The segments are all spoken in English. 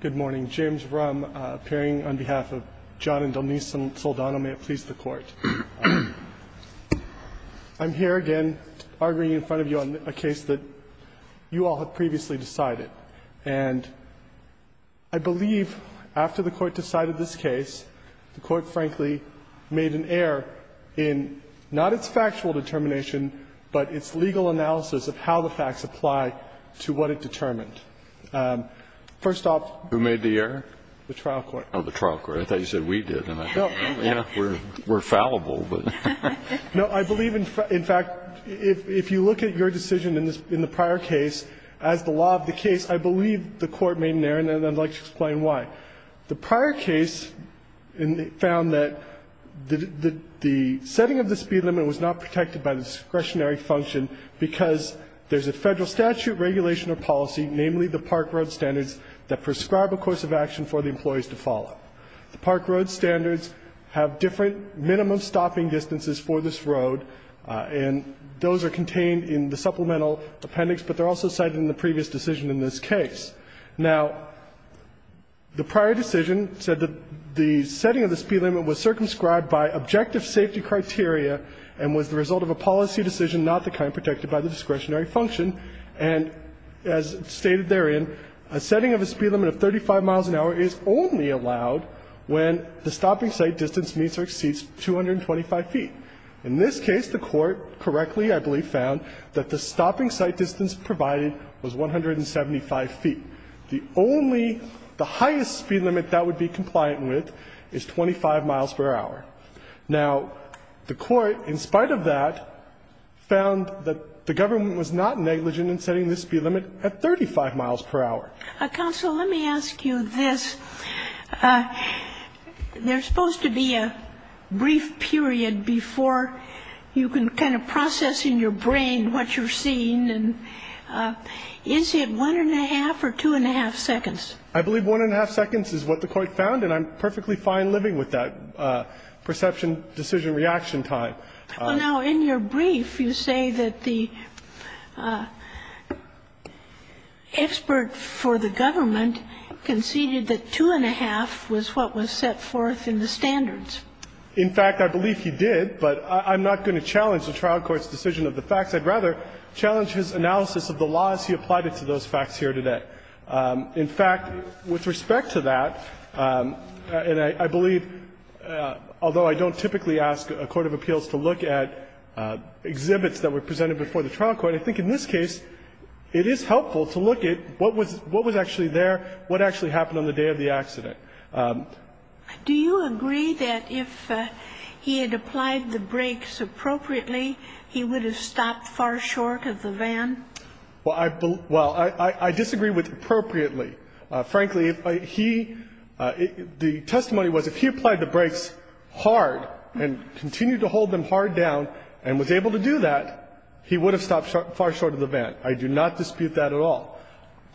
Good morning. James Ruhm, appearing on behalf of John and Donice Saldana. May it please the Court. I'm here again arguing in front of you on a case that you all have previously decided. And I believe after the Court decided this case, the Court, frankly, made an error in not its factual determination, but its legal analysis of how the facts apply to what it determined. First off — Who made the error? The trial court. Oh, the trial court. I thought you said we did, and I don't know. We're fallible, but — No, I believe, in fact, if you look at your decision in the prior case, as the law of the case, I believe the Court made an error, and I'd like to explain why. The prior case found that the setting of the speed limit was not protected by the discretionary function because there's a Federal statute, regulation of policy, namely the park road standards, that prescribe a course of action for the employees to follow. The park road standards have different minimum stopping distances for this road, and those are contained in the supplemental appendix, but they're also cited in the previous decision in this case. Now, the prior decision said that the setting of the speed limit was circumscribed by objective safety criteria and was the result of a policy decision, not the kind protected by the discretionary function. And as stated therein, a setting of a speed limit of 35 miles an hour is only allowed when the stopping site distance meets or exceeds 225 feet. In this case, the Court correctly, I believe, found that the stopping site distance provided was 175 feet. The only — the highest speed limit that would be compliant with is 25 miles per hour. Now, the Court, in spite of that, found that the government was not negligent in setting the speed limit at 35 miles per hour. Counsel, let me ask you this. There's supposed to be a brief period before you can kind of process in your brain what you're seeing, and is it one-and-a-half or two-and-a-half seconds? I believe one-and-a-half seconds is what the Court found, and I'm perfectly fine living with that perception-decision-reaction time. Well, now, in your brief, you say that the expert for the government conceded that two-and-a-half was what was set forth in the standards. In fact, I believe he did, but I'm not going to challenge the trial court's decision of the facts. I'd rather challenge his analysis of the laws he applied to those facts here today. In fact, with respect to that, and I believe, although I don't typically ask a court of appeals to look at exhibits that were presented before the trial court, I think in this case it is helpful to look at what was actually there, what actually happened on the day of the accident. Do you agree that if he had applied the brakes appropriately, he would have stopped far short of the van? Well, I disagree with appropriately. Frankly, if he – the testimony was if he applied the brakes hard and continued to hold them hard down and was able to do that, he would have stopped far short of the van. I do not dispute that at all.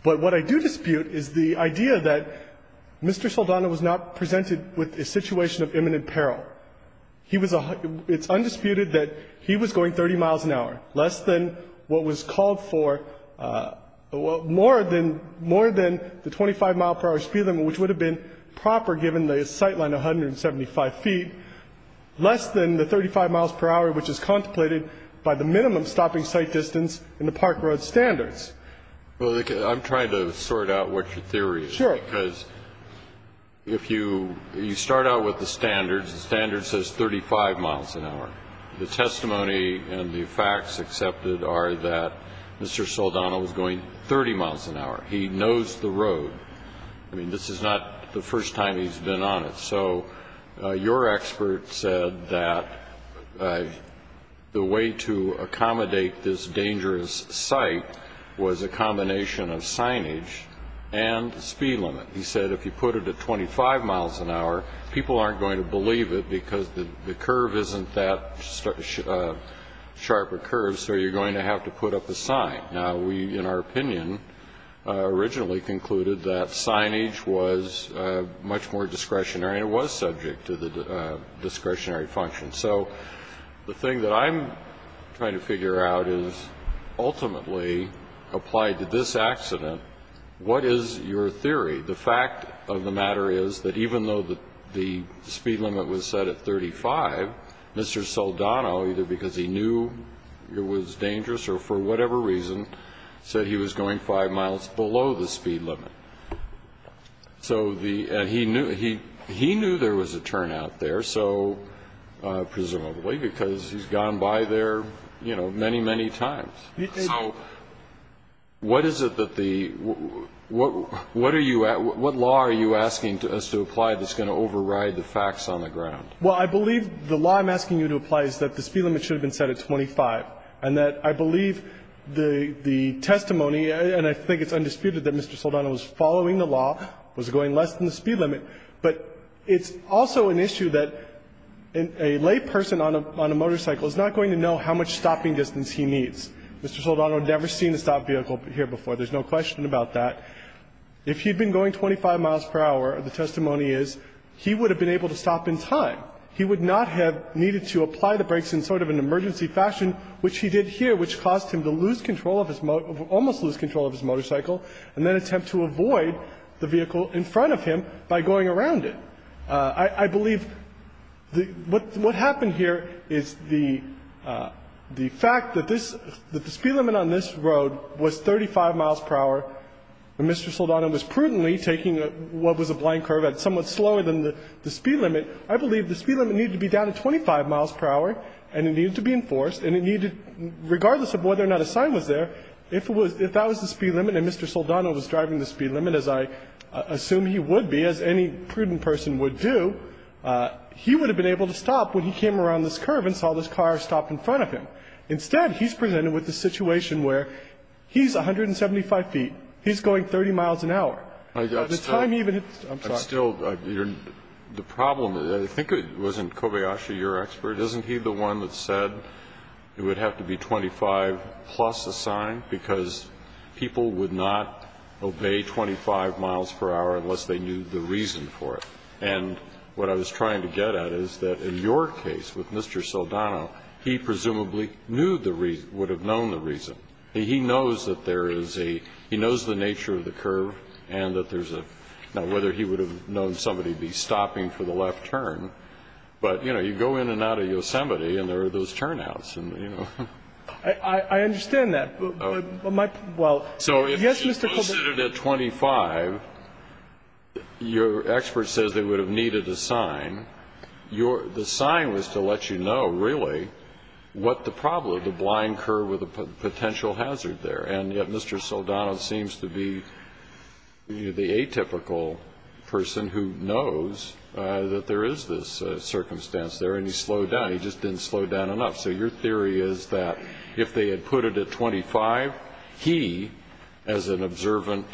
But what I do dispute is the idea that Mr. Saldana was not presented with a situation of imminent peril. He was a – it's undisputed that he was going 30 miles an hour, less than what was called for, more than the 25-mile-per-hour speed limit, which would have been proper given the sight line 175 feet, less than the 35 miles per hour, which is contemplated by the minimum stopping sight distance in the park road standards. Well, I'm trying to sort out what your theory is, because if you – you start out with the standards, the standard says 35 miles an hour. The testimony and the facts accepted are that Mr. Saldana was going 30 miles an hour. He knows the road. I mean, this is not the first time he's been on it. So your expert said that the way to accommodate this dangerous sight was a combination of signage and the speed limit. He said if you put it at 25 miles an hour, people aren't going to believe it because the curve isn't that sharp a curve, so you're going to have to put up a sign. Now, we, in our opinion, originally concluded that signage was much more discretionary and was subject to the discretionary function. So the thing that I'm trying to figure out is, ultimately, applied to this accident, what is your theory? The fact of the matter is that even though the speed limit was set at 35, Mr. Saldana, either because he knew it was dangerous or for whatever reason, said he was going five miles below the speed limit. So he knew there was a turnout there, so – presumably because he's gone by there, you know, many, many times. So what is it that the – what are you – what law are you asking us to apply that's going to override the facts on the ground? Well, I believe the law I'm asking you to apply is that the speed limit should have been set at 25, and that I believe the testimony – and I think it's undisputed that Mr. Saldana was following the law, was going less than the speed limit, but it's also an issue that a lay person on a – on a motorcycle is not going to know how much stopping distance he needs. Mr. Saldana had never seen a stopped vehicle here before. There's no question about that. If he'd been going 25 miles per hour, the testimony is he would have been able to stop in time. He would not have needed to apply the brakes in sort of an emergency fashion, which he did here, which caused him to lose control of his – almost lose control of his motorcycle, and then attempt to avoid the vehicle in front of him by going around it. I believe the – what happened here is the – the fact that this – that the speed limit on this road was 35 miles per hour, and Mr. Saldana was prudently taking what was a blind curve at somewhat slower than the speed limit, I believe the speed limit needed to be down to 25 miles per hour, and it needed to be enforced, and it needed – regardless of whether or not a sign was there, if it was – if that was the speed limit and Mr. Saldana was driving the speed limit, as I assume he would be, as any prudent person would do, he would have been able to stop when he came around this curve and saw this car stopped in front of him. Instead, he's presented with a situation where he's 175 feet, he's going 30 miles an hour. At the time he even – I'm sorry. The problem – I think it was in Kobayashi, your expert, isn't he the one that said it would have to be 25 plus a sign because people would not obey 25 miles per hour unless they knew the reason for it. And what I was trying to get at is that in your case with Mr. Saldana, he presumably knew the – would have known the reason. He knows that there is a – he knows the nature of the curve and that there's a – now, whether he would have known somebody be stopping for the left turn, but, you know, you go in out of Yosemite and there are those turnouts, and, you know. I understand that, but my – well, yes, Mr. Kobayashi. So if you posted it at 25, your expert says they would have needed a sign. The sign was to let you know, really, what the problem – the blind curve or the potential hazard there. And yet Mr. Saldana seems to be the atypical person who knows that there is this circumstance there and he slowed down. He just didn't slow down enough. So your theory is that if they had put it at 25, he, as an observant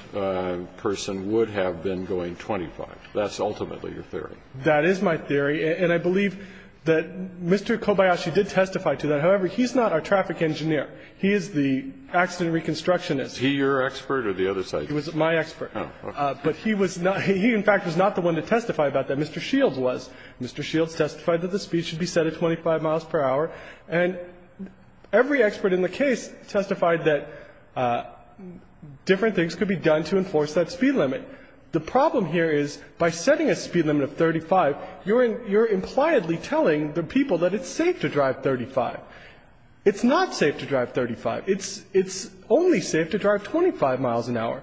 person, would have been going 25. That's ultimately your theory. That is my theory. And I believe that Mr. Kobayashi did testify to that. However, he's not our traffic engineer. He is the accident reconstructionist. Is he your expert or the other side's? He was my expert. But he was not – he, in fact, was not the one to testify about that. Mr. Shields was. Mr. Shields testified that the speed should be set at 25 miles per hour, and every expert in the case testified that different things could be done to enforce that speed limit. The problem here is by setting a speed limit of 35, you're – you're impliedly telling the people that it's safe to drive 35. It's not safe to drive 35. It's – it's only safe to drive 25 miles an hour.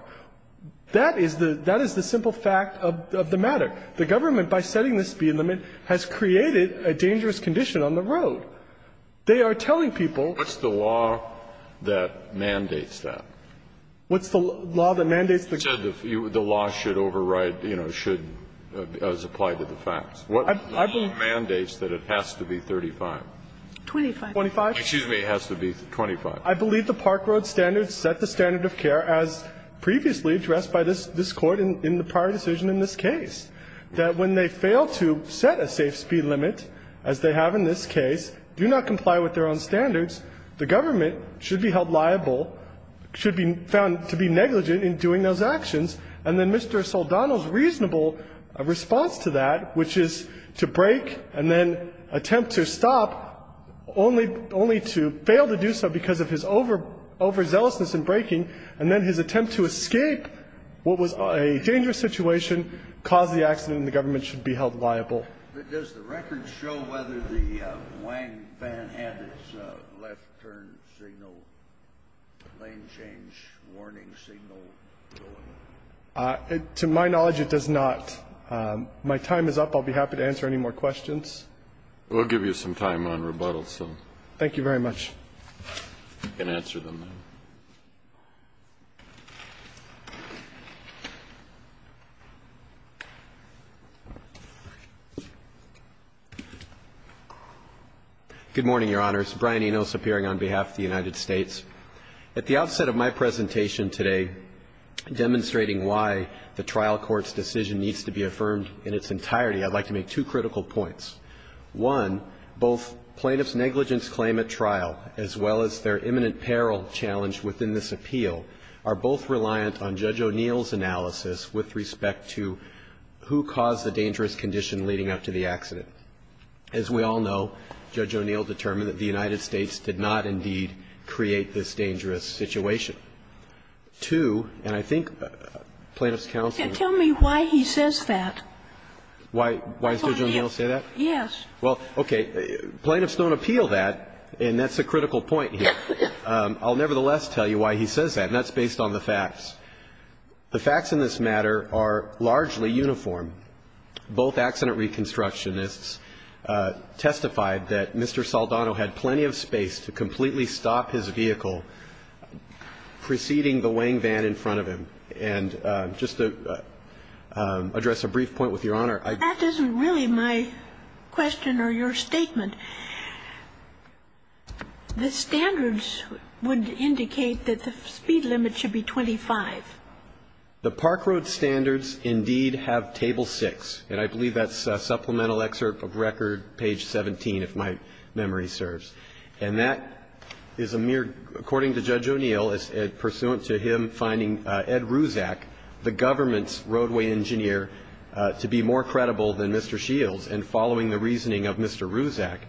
That is the – that is the simple fact of the matter. The government, by setting the speed limit, has created a dangerous condition on the road. They are telling people – Kennedy, what's the law that mandates that? What's the law that mandates the – You said the law should override, you know, should – as applied to the facts. I believe – The law mandates that it has to be 35. 25. 25. Excuse me. It has to be 25. I believe the Park Road standards set the standard of care as previously addressed by this – this Court in the prior decision in this case. That when they fail to set a safe speed limit, as they have in this case, do not comply with their own standards, the government should be held liable, should be found to be negligent in doing those actions. And then Mr. Soldano's reasonable response to that, which is to break and then attempt to stop, only – only to fail to do so because of his over – overzealousness in breaking, and then his attempt to escape what was a dangerous situation, caused the accident, and the government should be held liable. But does the record show whether the Wang van had its left turn signal, lane change warning signal going? To my knowledge, it does not. My time is up. I'll be happy to answer any more questions. We'll give you some time on rebuttal, so. Thank you very much. You can answer them now. Good morning, Your Honors. Brian Enos, appearing on behalf of the United States. At the outset of my presentation today, demonstrating why the trial court's decision needs to be affirmed in its entirety, I'd like to make two critical points. One, both plaintiff's negligence claim at trial, as well as their imminent peril challenge within this appeal, are both reliant on Judge O'Neill's judgment with respect to who caused the dangerous condition leading up to the accident. As we all know, Judge O'Neill determined that the United States did not indeed create this dangerous situation. Two, and I think plaintiff's counsel – Tell me why he says that. Why – why does Judge O'Neill say that? Yes. Well, okay. Plaintiffs don't appeal that, and that's a critical point here. I'll nevertheless tell you why he says that, and that's based on the facts. The facts in this matter are largely uniform. Both accident reconstructionists testified that Mr. Saldano had plenty of space to completely stop his vehicle preceding the weighing van in front of him. And just to address a brief point with Your Honor, I – That isn't really my question or your statement. The standards would indicate that the speed limit should be 25. The park road standards indeed have table 6, and I believe that's supplemental excerpt of record page 17, if my memory serves. And that is a mere – according to Judge O'Neill, it's pursuant to him finding Ed Ruzak, the government's roadway engineer, to be more credible than Mr. Shields, and following the reasoning of Mr. Ruzak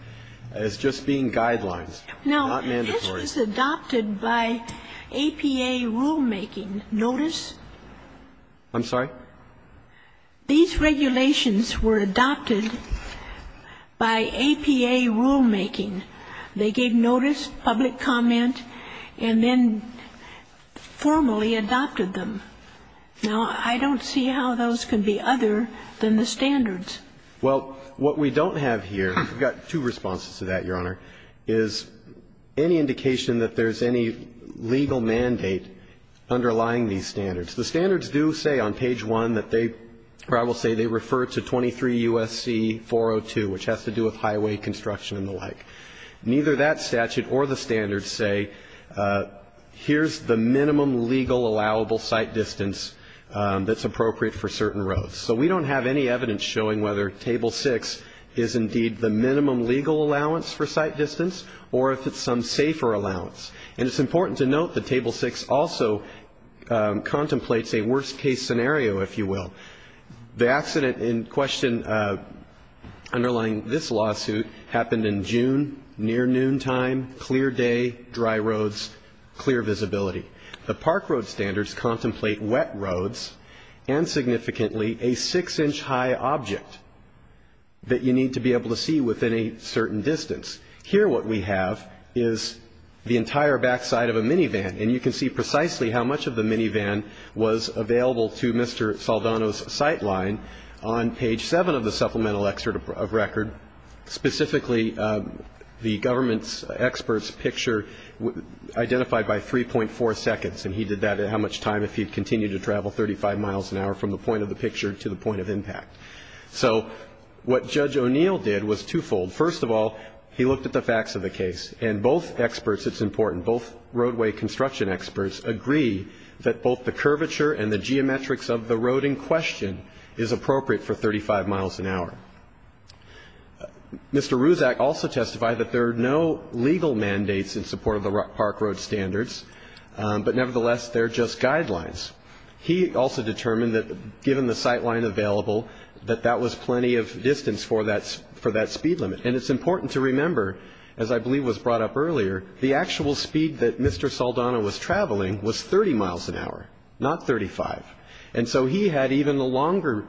as just being guidelines, not mandatory. Now, this was adopted by APA rulemaking. Notice? I'm sorry? These regulations were adopted by APA rulemaking. They gave notice, public comment, and then formally adopted them. Now, I don't see how those can be other than the standards. Well, what we don't have here – we've got two responses to that, Your Honor – is any indication that there's any legal mandate underlying these standards. The standards do say on page 1 that they – or I will say they refer to 23 U.S.C. 402, which has to do with highway construction and the like. Neither that statute or the standards say here's the minimum legal allowable site distance that's appropriate for certain roads. So we don't have any evidence showing whether Table 6 is indeed the minimum legal allowance for site distance or if it's some safer allowance. And it's important to note that Table 6 also contemplates a worst-case scenario, if you will. The accident in question underlying this lawsuit happened in June, near noontime, clear day, dry roads, clear visibility. The park road standards contemplate wet roads and significantly a 6-inch-high object that you need to be able to see within a certain distance. Here what we have is the entire backside of a minivan, and you can see precisely how much of the minivan was available to Mr. Saldano's sightline. On page 7 of the supplemental excerpt of record, specifically the government's expert's picture identified by 3.4 seconds, and he did that at how much time if he continued to travel 35 miles an hour from the point of the picture to the point of impact. So what Judge O'Neill did was twofold. First of all, he looked at the facts of the case, and both experts, it's important, both roadway construction experts agree that both the curvature and the geometrics of the road in question is appropriate for 35 miles an hour. Mr. Ruzak also testified that there are no legal mandates in support of the park road standards, but nevertheless they're just guidelines. He also determined that given the sightline available, that that was plenty of distance for that speed limit. And it's important to remember, as I believe was brought up earlier, the actual speed that Mr. Saldano was traveling was 30 miles an hour, not 35. And so he had even the longer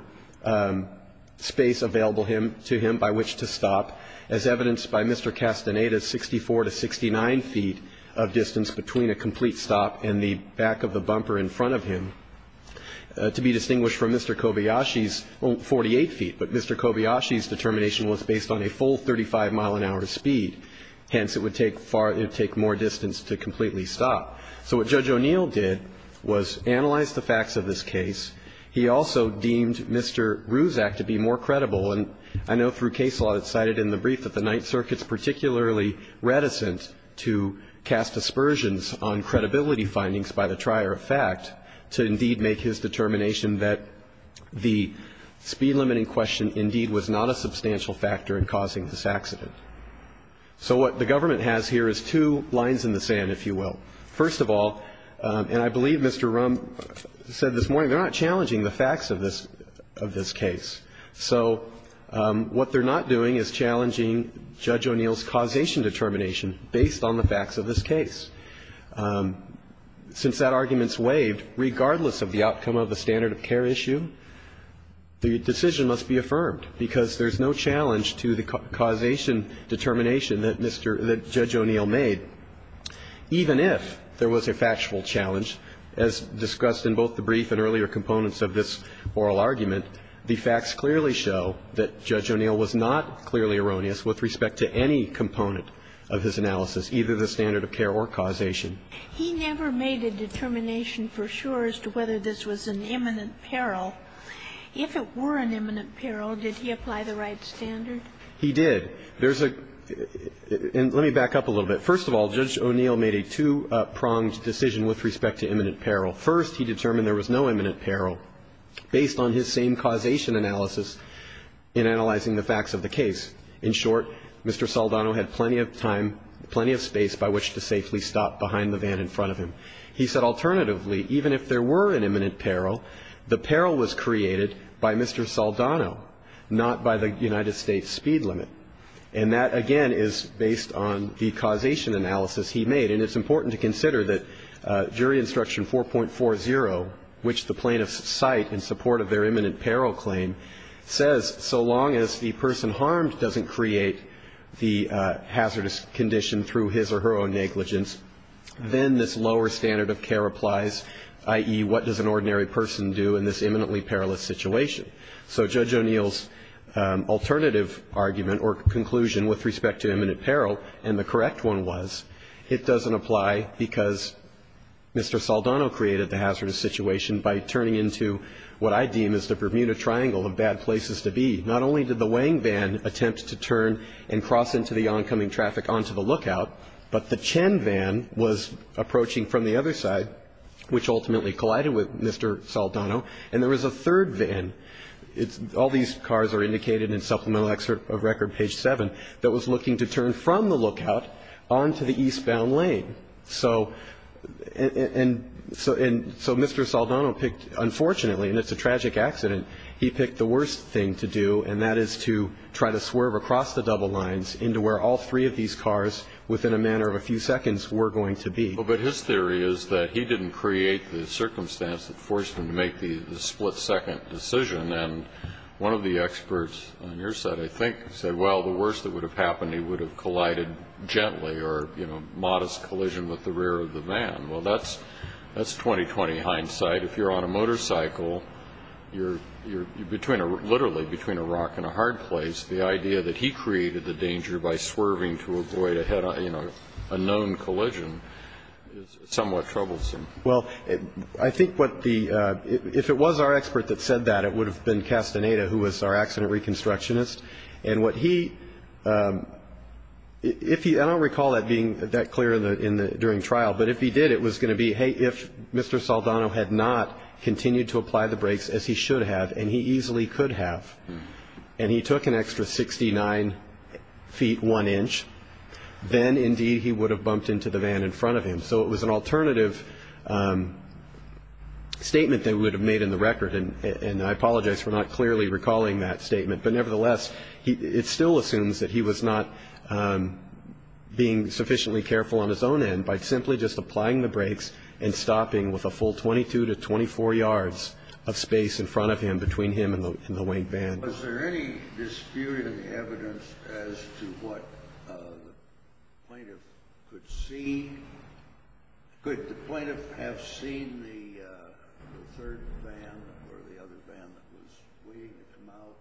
space available to him by which to stop, as evidenced by Mr. Castaneda's 64 to 69 feet of distance between a complete stop and the back of the bumper in front of him, to be distinguished from Mr. Kobayashi's 48 feet. But Mr. Kobayashi's determination was based on a full 35 mile an hour speed, hence it would take more distance to completely stop. So what Judge O'Neill did was analyze the facts of this case. He also deemed Mr. Ruzak to be more credible. And I know through case law that's cited in the brief that the Ninth Circuit's particularly reticent to cast aspersions on credibility findings by the trier of fact to indeed make his determination that the speed limiting question indeed was not a substantial factor in causing this accident. So what the government has here is two lines in the sand, if you will. First of all, and I believe Mr. Rumb said this morning, they're not challenging the facts of this case. So what they're not doing is challenging Judge O'Neill's causation determination based on the facts of this case. Since that argument's waived, regardless of the outcome of the standard of care issue, the decision must be affirmed because there's no challenge to the causation determination that Mr. Rumb made. Even if there was a factual challenge, as discussed in both the brief and earlier components of this oral argument, the facts clearly show that Judge O'Neill was not clearly erroneous with respect to any component of his analysis, either the standard of care or causation. He never made a determination for sure as to whether this was an imminent peril. If it were an imminent peril, did he apply the right standard? He did. There's a – and let me back up a little bit. First of all, Judge O'Neill made a two-pronged decision with respect to imminent peril. First, he determined there was no imminent peril based on his same causation analysis in analyzing the facts of the case. In short, Mr. Saldano had plenty of time, plenty of space by which to safely stop behind the van in front of him. He said alternatively, even if there were an imminent peril, the peril was created by Mr. Saldano, not by the United States speed limit. And that, again, is based on the causation analysis he made. And it's important to consider that jury instruction 4.40, which the plaintiffs cite in support of their imminent peril claim, says so long as the person harmed doesn't create the hazardous condition through his or her own negligence, then this lower standard of care applies, i.e., what does an ordinary person do in this imminently perilous situation? So Judge O'Neill's alternative argument or conclusion with respect to imminent peril, and the correct one was, it doesn't apply because Mr. Saldano created the hazardous situation by turning into what I deem is the Bermuda Triangle of bad places to be. Not only did the weighing van attempt to turn and cross into the oncoming traffic onto the lookout, but the Chen van was approaching from the other side, which ultimately collided with Mr. Saldano. And there was a third van. All these cars are indicated in Supplemental Excerpt of Record, page 7, that was looking to turn from the lookout onto the eastbound lane. So Mr. Saldano picked, unfortunately, and it's a tragic accident, he picked the worst thing to do, and that is to try to swerve across the double lines into where all three of these cars, within a matter of a few seconds, were going to be. But his theory is that he didn't create the circumstance that forced him to make the split-second decision, and one of the experts on your side, I think, said, well, the worst that would have happened, he would have collided gently or, you know, modest collision with the rear of the van. Well, that's 20-20 hindsight. If you're on a motorcycle, you're literally between a rock and a hard place. The idea that he created the danger by swerving to avoid, you know, a known collision is somewhat troublesome. Well, I think what the ‑‑ if it was our expert that said that, it would have been Castaneda, who was our accident reconstructionist. And what he ‑‑ if he ‑‑ I don't recall that being that clear during trial, but if he did, it was going to be, hey, if Mr. Saldano had not continued to apply the brakes as he should have, and he easily could have, and he took an extra 69 feet 1 inch, then, indeed, he would have bumped into the van in front of him. So it was an alternative statement that we would have made in the record, and I apologize for not clearly recalling that statement. But nevertheless, it still assumes that he was not being sufficiently careful on his own end by simply just applying the brakes and stopping with a full 22 to 24 yards of space in front of him between him and the white van. Was there any disputed evidence as to what the plaintiff could see? Could the plaintiff have seen the third van or the other van that was waiting to come out?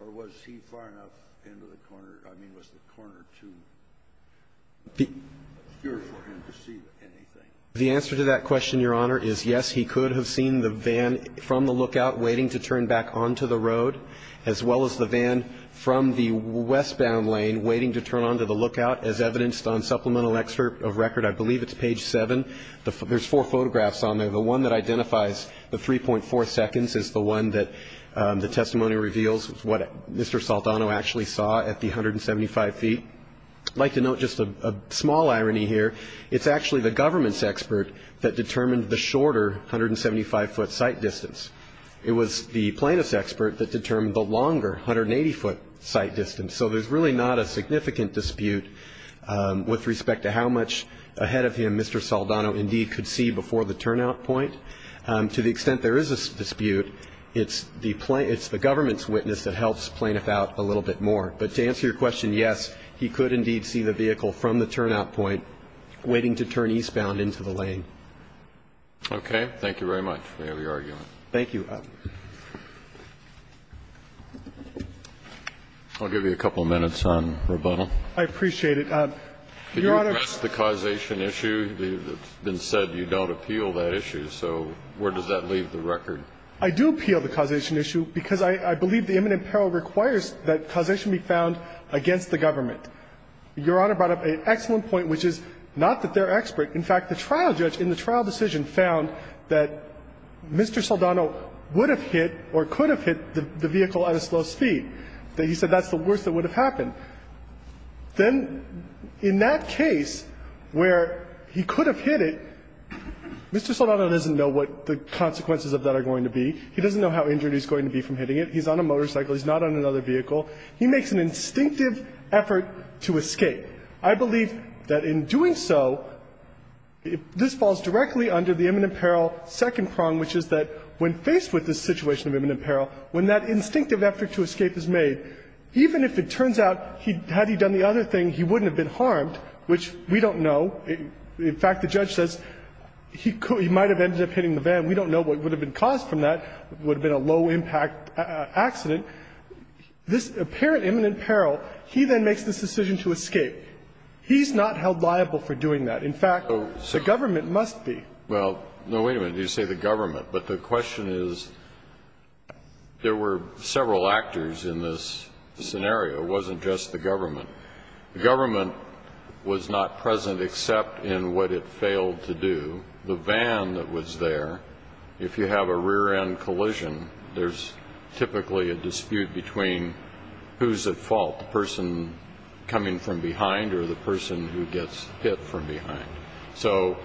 Or was he far enough into the corner? I mean, was the corner too secure for him to see anything? The answer to that question, Your Honor, is yes, he could have seen the van from the lookout waiting to turn back onto the road, as well as the van from the westbound lane waiting to turn onto the lookout, as evidenced on supplemental excerpt of record. I believe it's page 7. There's four photographs on there. The one that identifies the 3.4 seconds is the one that the testimony reveals, what Mr. Saldano actually saw at the 175 feet. I'd like to note just a small irony here. It's actually the government's expert that determined the shorter 175-foot sight distance. It was the plaintiff's expert that determined the longer 180-foot sight distance. So there's really not a significant dispute with respect to how much ahead of him Mr. Saldano indeed could see before the turnout point. To the extent there is a dispute, it's the government's witness that helps plaintiff out a little bit more. But to answer your question, yes, he could indeed see the vehicle from the turnout point waiting to turn eastbound into the lane. Okay. Thank you very much for your argument. Thank you. I'll give you a couple of minutes on rebuttal. I appreciate it. Your Honor Can you address the causation issue? It's been said you don't appeal that issue. So where does that leave the record? I do appeal the causation issue because I believe the imminent peril requires that causation be found against the government. Your Honor brought up an excellent point, which is not that they're expert. In fact, the trial judge in the trial decision found that Mr. Saldano would have hit or could have hit the vehicle at a slow speed. He said that's the worst that would have happened. Then in that case where he could have hit it, Mr. Saldano doesn't know what the consequences of that are going to be. He doesn't know how injured he's going to be from hitting it. He's on a motorcycle. He's not on another vehicle. He makes an instinctive effort to escape. I believe that in doing so, this falls directly under the imminent peril second prong, which is that when faced with this situation of imminent peril, when that instinctive effort to escape is made, even if it turns out had he done the other thing, he wouldn't have been harmed, which we don't know. In fact, the judge says he might have ended up hitting the van. We don't know what would have been caused from that. It would have been a low-impact accident. This apparent imminent peril, he then makes this decision to escape. He's not held liable for doing that. In fact, the government must be. Well, no, wait a minute. You say the government. But the question is, there were several actors in this scenario. It wasn't just the government. The government was not present except in what it failed to do. The van that was there, if you have a rear-end collision, there's typically a dispute between who's at fault, the person coming from behind or the person who gets hit from behind. So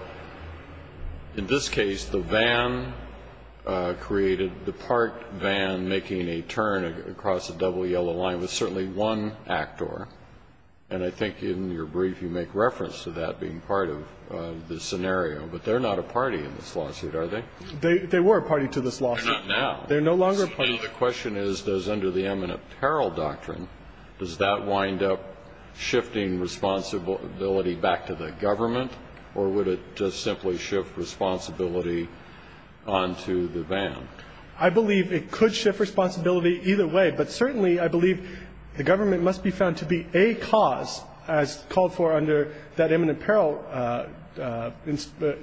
in this case, the van created, the parked van making a turn across a double yellow line was certainly one actor. And I think in your brief, you make reference to that being part of the government. But they're not a party in this lawsuit, are they? They were a party to this lawsuit. They're not now. They're no longer a party. So the question is, does under the imminent peril doctrine, does that wind up shifting responsibility back to the government? Or would it just simply shift responsibility onto the van? I believe it could shift responsibility either way. But certainly I believe the government must be found to be a cause, as called for under that imminent peril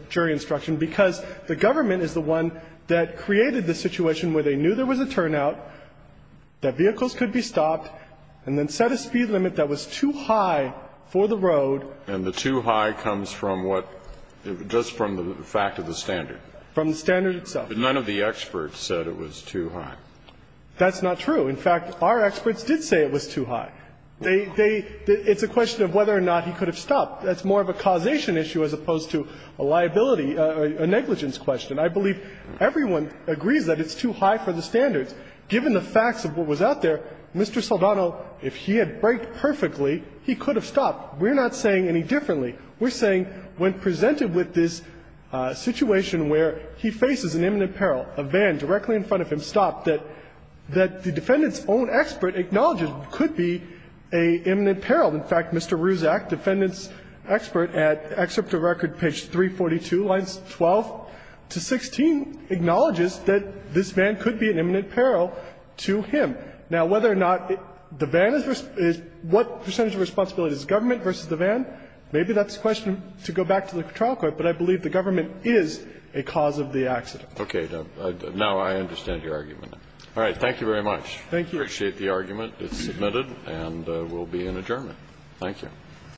jury instruction, because the government is the one that created the situation where they knew there was a turnout, that vehicles could be stopped, and then set a speed limit that was too high for the road. And the too high comes from what? Just from the fact of the standard. From the standard itself. But none of the experts said it was too high. That's not true. In fact, our experts did say it was too high. It's a question of whether or not he could have stopped. That's more of a causation issue as opposed to a liability, a negligence question. I believe everyone agrees that it's too high for the standards. Given the facts of what was out there, Mr. Saldano, if he had braked perfectly, he could have stopped. We're not saying any differently. We're saying when presented with this situation where he faces an imminent peril, a van directly in front of him stopped, that the defendant's own expert acknowledges that this van could be an imminent peril. In fact, Mr. Ruzak, defendant's expert at Excerpt of Record, page 342, lines 12 to 16, acknowledges that this van could be an imminent peril to him. Now, whether or not the van is responsible, what percentage of responsibility is government versus the van, maybe that's a question to go back to the trial court, but I believe the government is a cause of the accident. Okay. Now I understand your argument. All right. Thank you very much. Thank you. We appreciate the argument. It's submitted and will be in adjournment. Thank you.